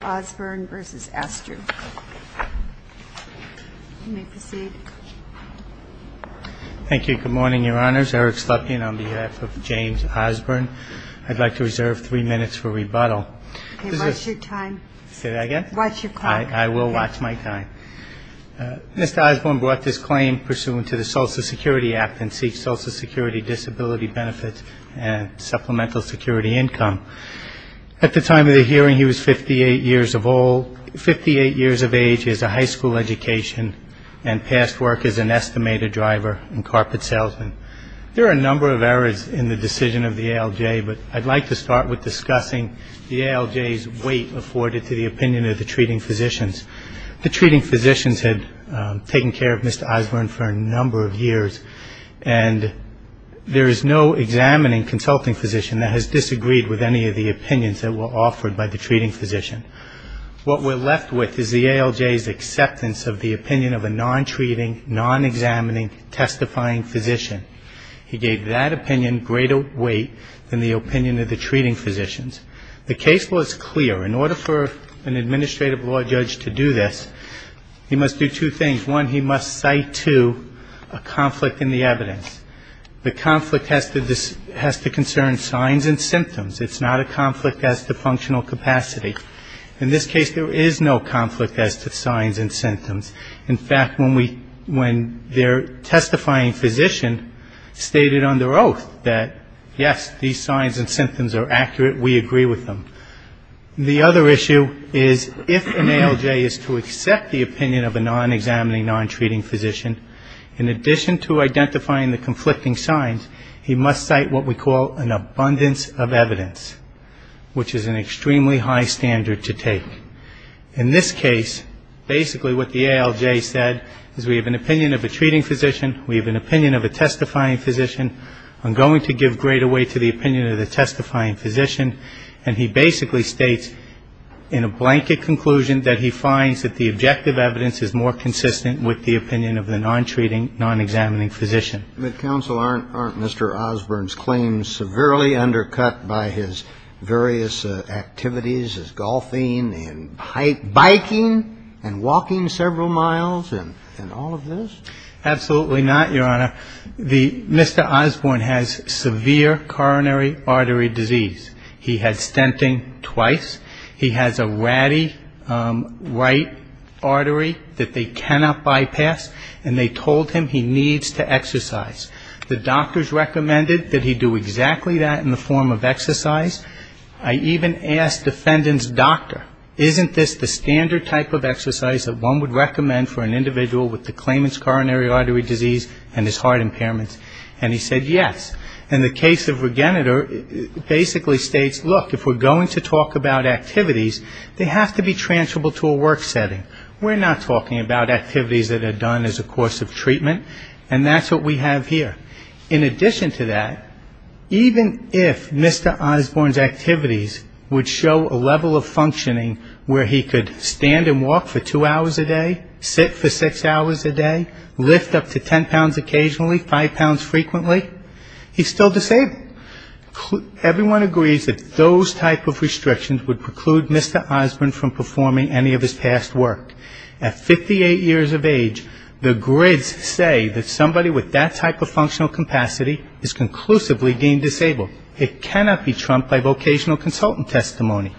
I'd like to reserve three minutes for rebuttal. I will watch my time. Mr. Osburn brought this claim pursuant to the Social Security Act and seeks social security disability benefits and supplemental security income. At the time of the hearing, he was 58 years of age, he has a high school education, and past work is an estimated driver in carpet salesmen. There are a number of errors in the decision of the ALJ, but I'd like to start with discussing the ALJ's weight afforded to the opinion of the treating physicians. The treating physicians had taken care of Mr. Osburn for a number of years, and there is no examining consulting physician that has disagreed with any of the opinions offered by the treating physician. What we're left with is the ALJ's acceptance of the opinion of a non-treating, non-examining, testifying physician. He gave that opinion greater weight than the opinion of the treating physicians. The case was clear. In order for an administrative law judge to do this, he must do two things. One, he must cite, too, a conflict in the evidence. The conflict has to concern signs and symptoms. It's not a conflict as to functional capacity. In this case, there is no conflict as to signs and symptoms. In fact, when we, when their testifying physician stated under oath that, yes, these signs and symptoms are accurate, we agree with them. The other issue is if an ALJ is to accept the opinion of a non-examining, non-treating physician, in addition to identifying the conflicting signs, he must cite what we call an abundance of evidence, which is an extremely high standard to take. In this case, basically what the ALJ said is we have an opinion of a treating physician, we have an opinion of a testifying physician. I'm going to give greater weight to the opinion of the testifying physician. And he basically states in a blanket conclusion that he finds that the objective evidence is more consistent with the opinion of the non-treating, non-examining physician. But counsel, aren't Mr. Osborne's claims severely undercut by his various activities, his golfing and biking and walking several miles and all of this? Absolutely not, Your Honor. Mr. Osborne has severe coronary artery disease. He has stenting twice. He has a ratty right artery that they cannot bypass. And they told him he needs to exercise. The doctors recommended that he do exactly that in the form of exercise. I even asked defendant's doctor, isn't this the standard type of exercise that one would recommend for an individual with the claimant's coronary artery disease and his heart impairments? And he said yes. And the case of Regeneter basically states, look, if we're going to talk about activities, they have to be transferable to a work setting. We're not talking about activities that are done as a course of treatment. And that's what we have here. In addition to that, even if Mr. Osborne's activities would show a level of functioning where he could stand and walk for two hours a day, sit for six hours a day, lift up to ten pounds occasionally, five pounds frequently, he's still disabled. Everyone agrees that those type of restrictions would preclude Mr. Osborne from performing any of his past work. At 58 years of age, the grids say that somebody with that type of functional capacity is conclusively deemed disabled. It cannot be trumped by vocational consultant testimony.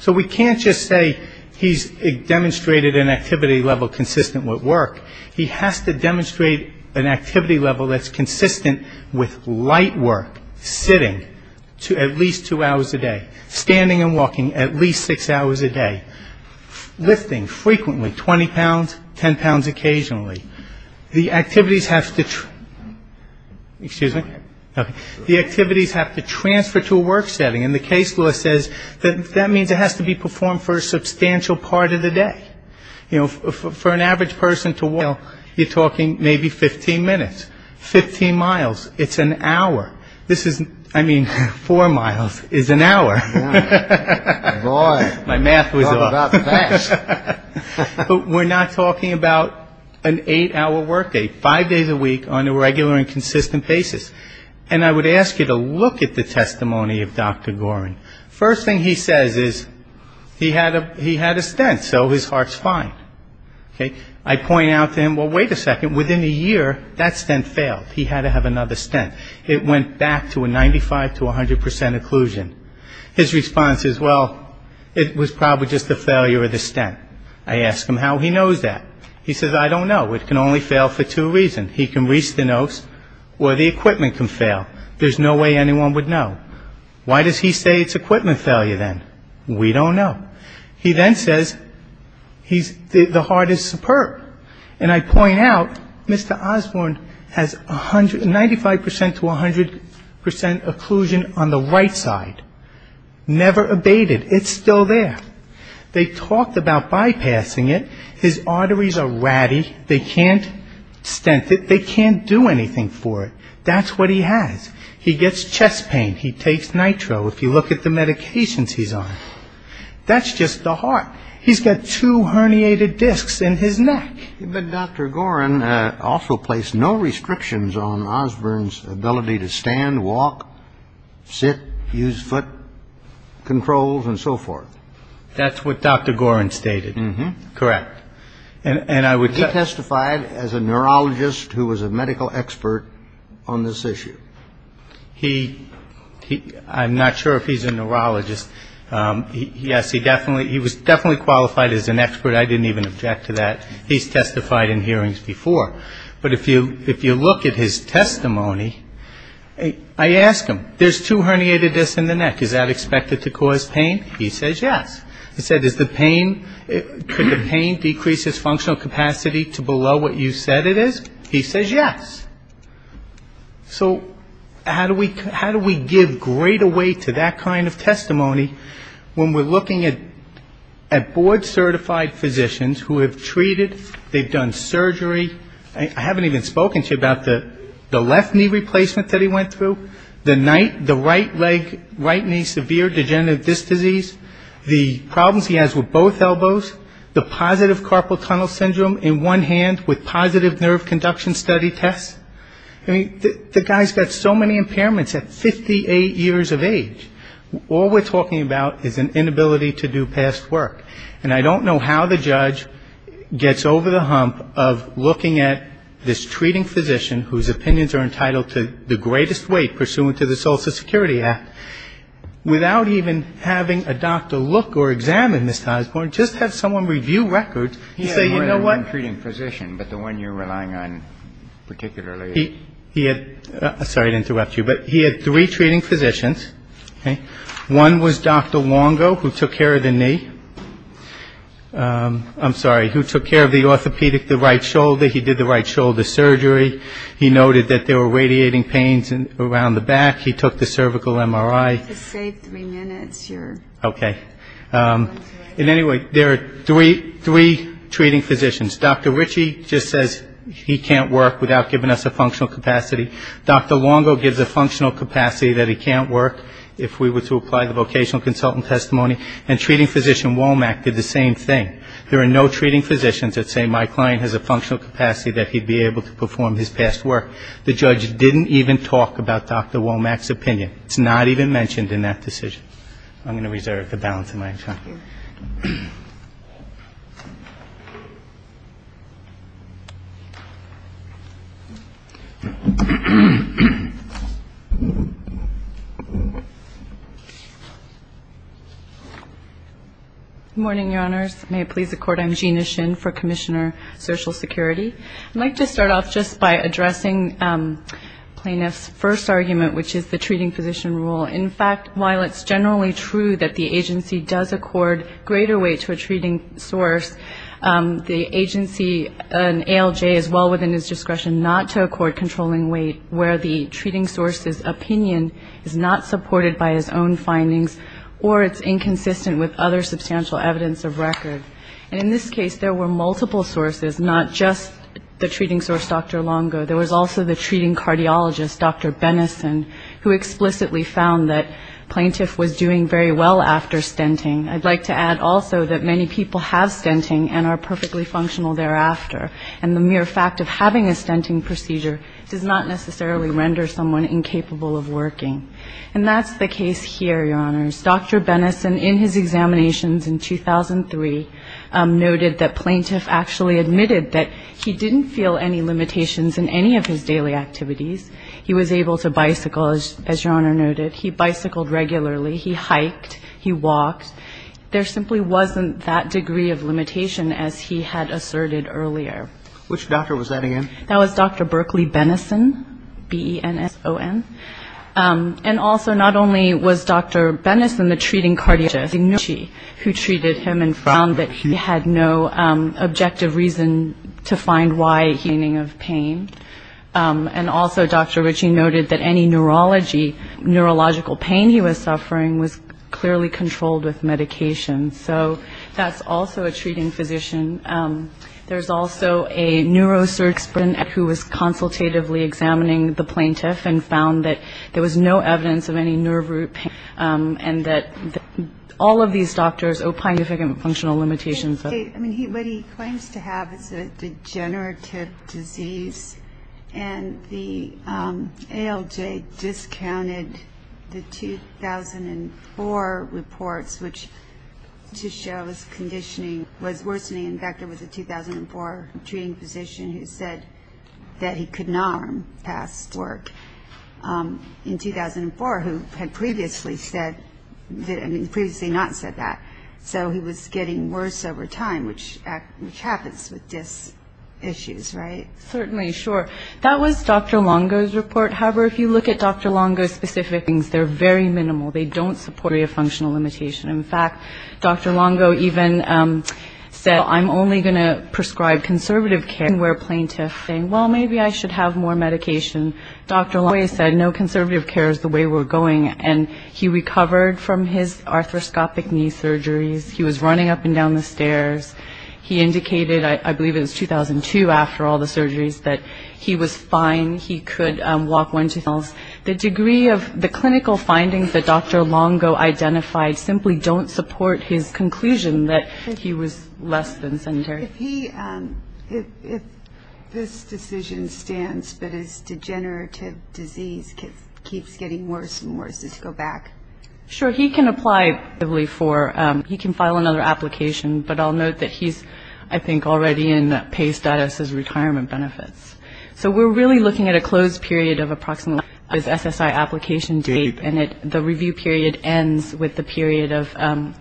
So we can't just say he's demonstrated an activity level consistent with work. He has to demonstrate an activity level that's consistent with light work, sitting at least two hours a day, standing and walking at least six hours a day, lifting frequently, 20 pounds, ten pounds occasionally. The activities have to transfer to a work setting. And the case law says that means it has to be performed for a substantial part of the day. You know, for an average person to walk, you're talking maybe 15 minutes. Fifteen miles, it's an hour. This is, I mean, four miles is an hour. Boy. My math was off. Talk about fast. But we're not talking about an eight-hour workday, five days a week on a regular and consistent basis. And I would ask you to look at the testimony of Dr. Gorin. First thing he says is he had a stent, so his heart's fine. Okay? I point out to him, well, wait a second, within a year that stent failed. He had to have another stent. It went back to a 95 to 100 percent occlusion. His response is, well, it was probably just the failure of the stent. I ask him how he knows that. He says, I don't know. It can only fail for two reasons. He can reach the nose or the equipment can fail. There's no way anyone would know. Why does he say it's equipment failure, then? We don't know. He then says the heart is superb. And I point out, Mr. Osborne has 95 percent to 100 percent occlusion on the right side. Never abated. It's still there. They talked about bypassing it. His arteries are ratty. They can't stent it. They can't do anything for it. That's what he has. He gets chest pain. He takes nitro. If you look at the medications he's on, that's just the heart. He's got two herniated discs in his neck. But Dr. Gorin also placed no restrictions on Osborne's ability to stand, walk, sit, use foot controls and so forth. That's what Dr. Gorin stated. Correct. And I would He testified as a neurologist who was a medical expert on this issue. He, I'm not sure if he's a neurologist. Yes, he definitely, he was definitely qualified as an expert. I didn't even object to that. He's testified in hearings before. But if you look at his testimony, I ask him, there's two herniated discs in the neck. Is that expected to cause pain? He says yes. I said, is the pain, could the pain decrease his functional capacity to below what you said it is? He says yes. So how do we give greater weight to that kind of testimony when we're looking at board certified physicians who have treated, they've done surgery. I haven't even spoken to you about the left knee replacement that he went through, the right leg, right knee severe degenerative disc disease, the problems he has with both elbows, the positive carpal induction study test. The guy's got so many impairments at 58 years of age. All we're talking about is an inability to do past work. And I don't know how the judge gets over the hump of looking at this treating physician whose opinions are entitled to the greatest weight pursuant to the Social Security Act, without even having a doctor look or examine Mr. Osborne, just have someone review records and say, you know what? He had three treating physicians. One was Dr. Wongo who took care of the knee. I'm sorry, who took care of the orthopedic, the right shoulder. He did the right shoulder surgery. He noted that there were radiating pains around the back. He took the cervical MRI. And anyway, there are three treating physicians. Dr. Ritchie just says he can't work without giving us a functional capacity. Dr. Wongo gives a functional capacity that he can't work if we were to apply the vocational consultant testimony. And treating physician Womack did the same thing. There are no treating physicians that say my client has a functional capacity that he'd be able to perform his past work. The judge didn't even talk about Dr. Womack's opinion. It's not even mentioned in that decision. I'm going to reserve the balance of my time. MS. SHINN, COMMISSIONER, SOCIAL SECURITY. Good morning, Your Honors. May it please the Court. I'm Gina Shinn for Commissioner Social Security. I'd like to start off just by addressing plaintiff's first argument, which is the treating physician rule. In fact, while it's generally true that the agency does accord greater weight to a treating source, the agency and ALJ is well within his discretion not to accord controlling weight where the treating source's opinion is not supported by his own findings or it's inconsistent with other substantial evidence of record. And in this case, there were multiple sources, not just the treating source Dr. Womack, but also the treating cardiologist Dr. Benison, who explicitly found that plaintiff was doing very well after stenting. I'd like to add also that many people have stenting and are perfectly functional thereafter. And the mere fact of having a stenting procedure does not necessarily render someone incapable of working. And that's the case here, Your Honors. Dr. Benison, in his examinations in 2003, noted that plaintiff actually admitted that he didn't feel any limitations in any of his daily activities. He was able to bicycle, as Your Honor noted. He bicycled regularly. He hiked. He walked. There simply wasn't that degree of limitation as he had asserted earlier. Which doctor was that again? That was Dr. Berkeley Benison, B-E-N-S-O-N. And also not only was Dr. Benison the treating cardiologist, but Dr. Richard Ritchie, who treated him and found that he had no objective reason to find why he was suffering. And also Dr. Ritchie noted that any neurology, neurological pain he was suffering was clearly controlled with medication. So that's also a treating physician. There's also a neurosurgeon who was consultatively examining the plaintiff and found that there was no evidence of any nerve root pain. And that all of these doctors opine that there were functional limitations. I mean, what he claims to have is a degenerative disease. And the ALJ discounted the 2004 reports, which to show his conditioning was worsening. In fact, there was a 2004 treating physician who said that he could not perform past work. In 2004, who had previously said, I mean previously not said that. So he was getting worse over time, which happens with dys issues, right? Certainly, sure. That was Dr. Longo's report. However, if you look at Dr. Longo's specific things, they're very minimal. They don't support a functional limitation. In fact, Dr. Longo even said, I'm only going to prescribe conservative care, where a plaintiff saying, well, maybe I should have more medication. Dr. Longo always said, no, conservative care is the way we're going. And he recovered from his arthroscopic knee surgeries. He was running up and down the stairs. He indicated, I believe it was 2002 after all the surgeries, that he was fine. He could walk one, two miles. The degree of the clinical findings that Dr. Longo identified simply don't support his conclusion that he was less than sedentary. If he, if this decision stands, but his degenerative disease keeps getting worse and worse, does it go back? Sure. He can apply for, he can file another application, but I'll note that he's, I think, already in PACE status as retirement benefits. So we're really looking at a closed period of approximately his SSI application date, and the review period ends with the period of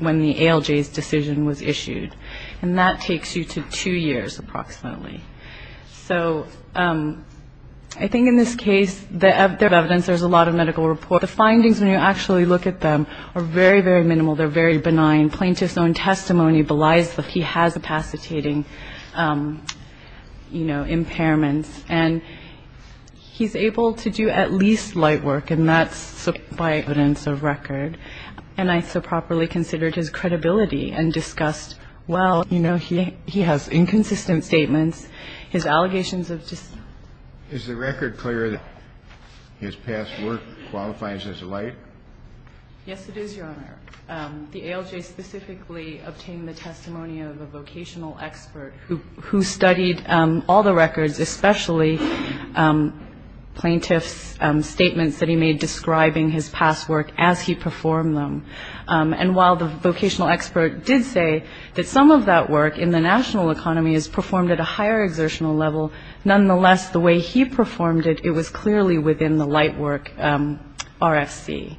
when the ALJ's decision was issued. And that takes you to two years approximately. So I think in this case, the evidence, there's a lot of medical report. The findings, when you actually look at them, are very, very minimal. They're very benign. Plaintiff's own testimony belies that he has capacitating, you know, impairments. And he's able to do at least light work, and that's by evidence of record. And I so properly considered his credibility and discussed, well, you know, he, he has inconsistent statements. His allegations of just... Is the record clear that his past work qualifies as light? Yes, it is, Your Honor. The ALJ specifically obtained the testimony of a vocational expert who studied all the records, especially plaintiff's statements that he made describing his past work as he performed them. And while the vocational expert did say that some of that work in the national economy is performed at a higher exertional level, nonetheless, the way he performed it, it was clearly within the light work RFC.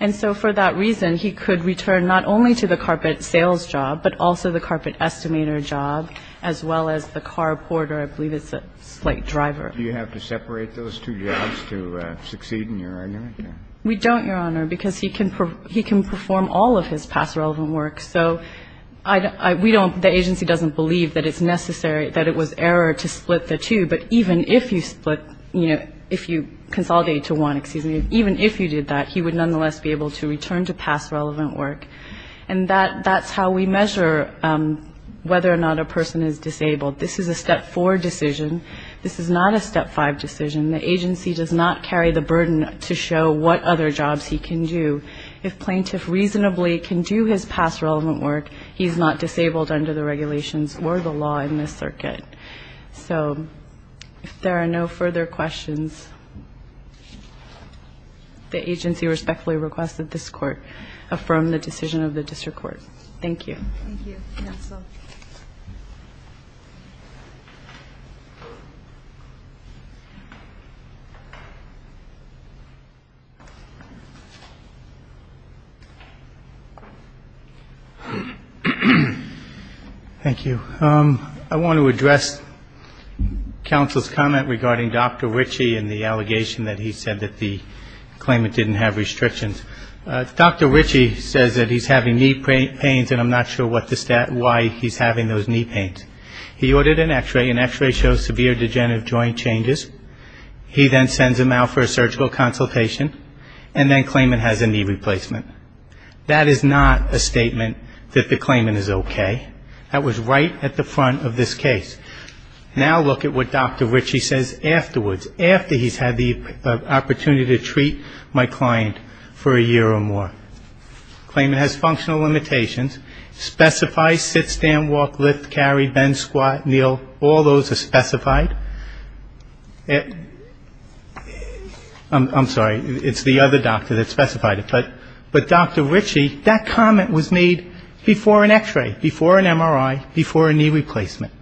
And so for that reason, he could return not only to the carpet sales job, but also the carpet estimator job, as well as the car porter. I believe it's a slight driver. Do you have to separate those two jobs to succeed in your argument? We don't, Your Honor, because he can perform all of his past relevant work. So I don't we don't the agency doesn't believe that it's necessary that it was error to split the two. But even if you split, you know, if you consolidate to one, excuse me, even if you did that, he would nonetheless be able to return to past relevant work. And that's how we measure whether or not a person is disabled. This is a step four decision. This is not a step five decision. The agency does not carry the burden to show what other jobs he can do. If plaintiff reasonably can do his past relevant work, he's not disabled under the regulations or the law in this circuit. So if there are no further questions. The agency respectfully requests that this Court affirm the decision of the district court. Thank you. Thank you, counsel. Thank you. I want to address counsel's comment regarding Dr. Ritchie and the allegation that he said that the claimant didn't have restrictions. Dr. Ritchie says that he's having knee pains and I'm not sure why he's having those knee pains. He ordered an x-ray. An x-ray shows severe degenerative joint changes. He then sends him out for a surgical consultation and then claimant has a knee replacement. That is not a statement that the claimant is okay. That was right at the front of this case. Now look at what Dr. Ritchie says afterwards, after he's had the opportunity to treat my client for a year or more. Claimant has functional limitations. Specify sit, stand, walk, lift, carry, bend, squat, kneel, all those are specified. I'm sorry, it's the other doctor that specified it. But Dr. Ritchie, that comment was made before an x-ray, before an MRI, before a knee replacement.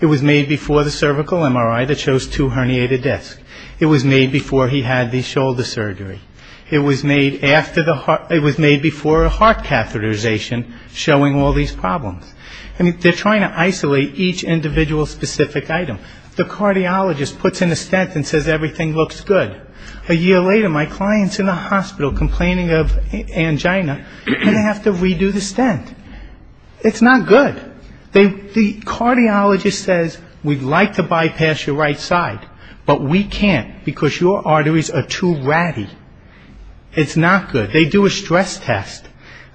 It was made before the cervical MRI that shows two herniated discs. It was made before he had the shoulder surgery. It was made after the heart, it was made before a heart catheterization showing all these problems. I mean, they're trying to isolate each individual specific item. The cardiologist puts in a stent and says everything looks good. A year later, my client's in the hospital complaining of angina, and they have to redo the stent. It's not good. The cardiologist says we'd like to bypass your right side, but we can't because your arteries are too ratty. It's not good. They do a stress test.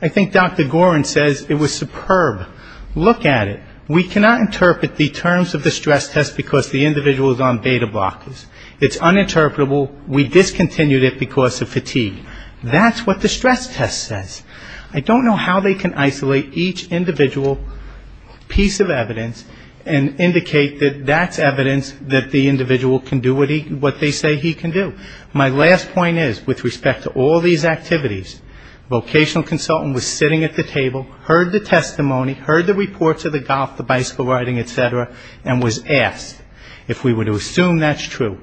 I think Dr. Gorin says it was superb. Look at it. We cannot interpret the terms of the stress test because the individual is on beta blockers. It's uninterpretable. We discontinued it because of fatigue. That's what the stress test says. I don't know how they can isolate each individual piece of evidence and indicate that that's evidence that the individual can do what they say he can do. My last point is, with respect to all these activities, vocational consultant was sitting at the table, heard the testimony, heard the reports of the golf, the bicycle riding, et cetera, and was asked to assume that's true.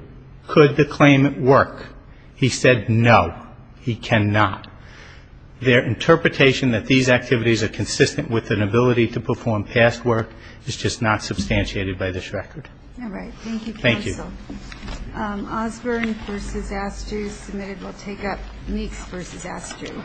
Could the claimant work? He said no, he cannot. Their interpretation that these activities are consistent with an ability to perform past work is just not substantiated by this record. All right. Thank you, counsel. Osborne v. Astruz submitted. We'll take up Meeks v. Astruz.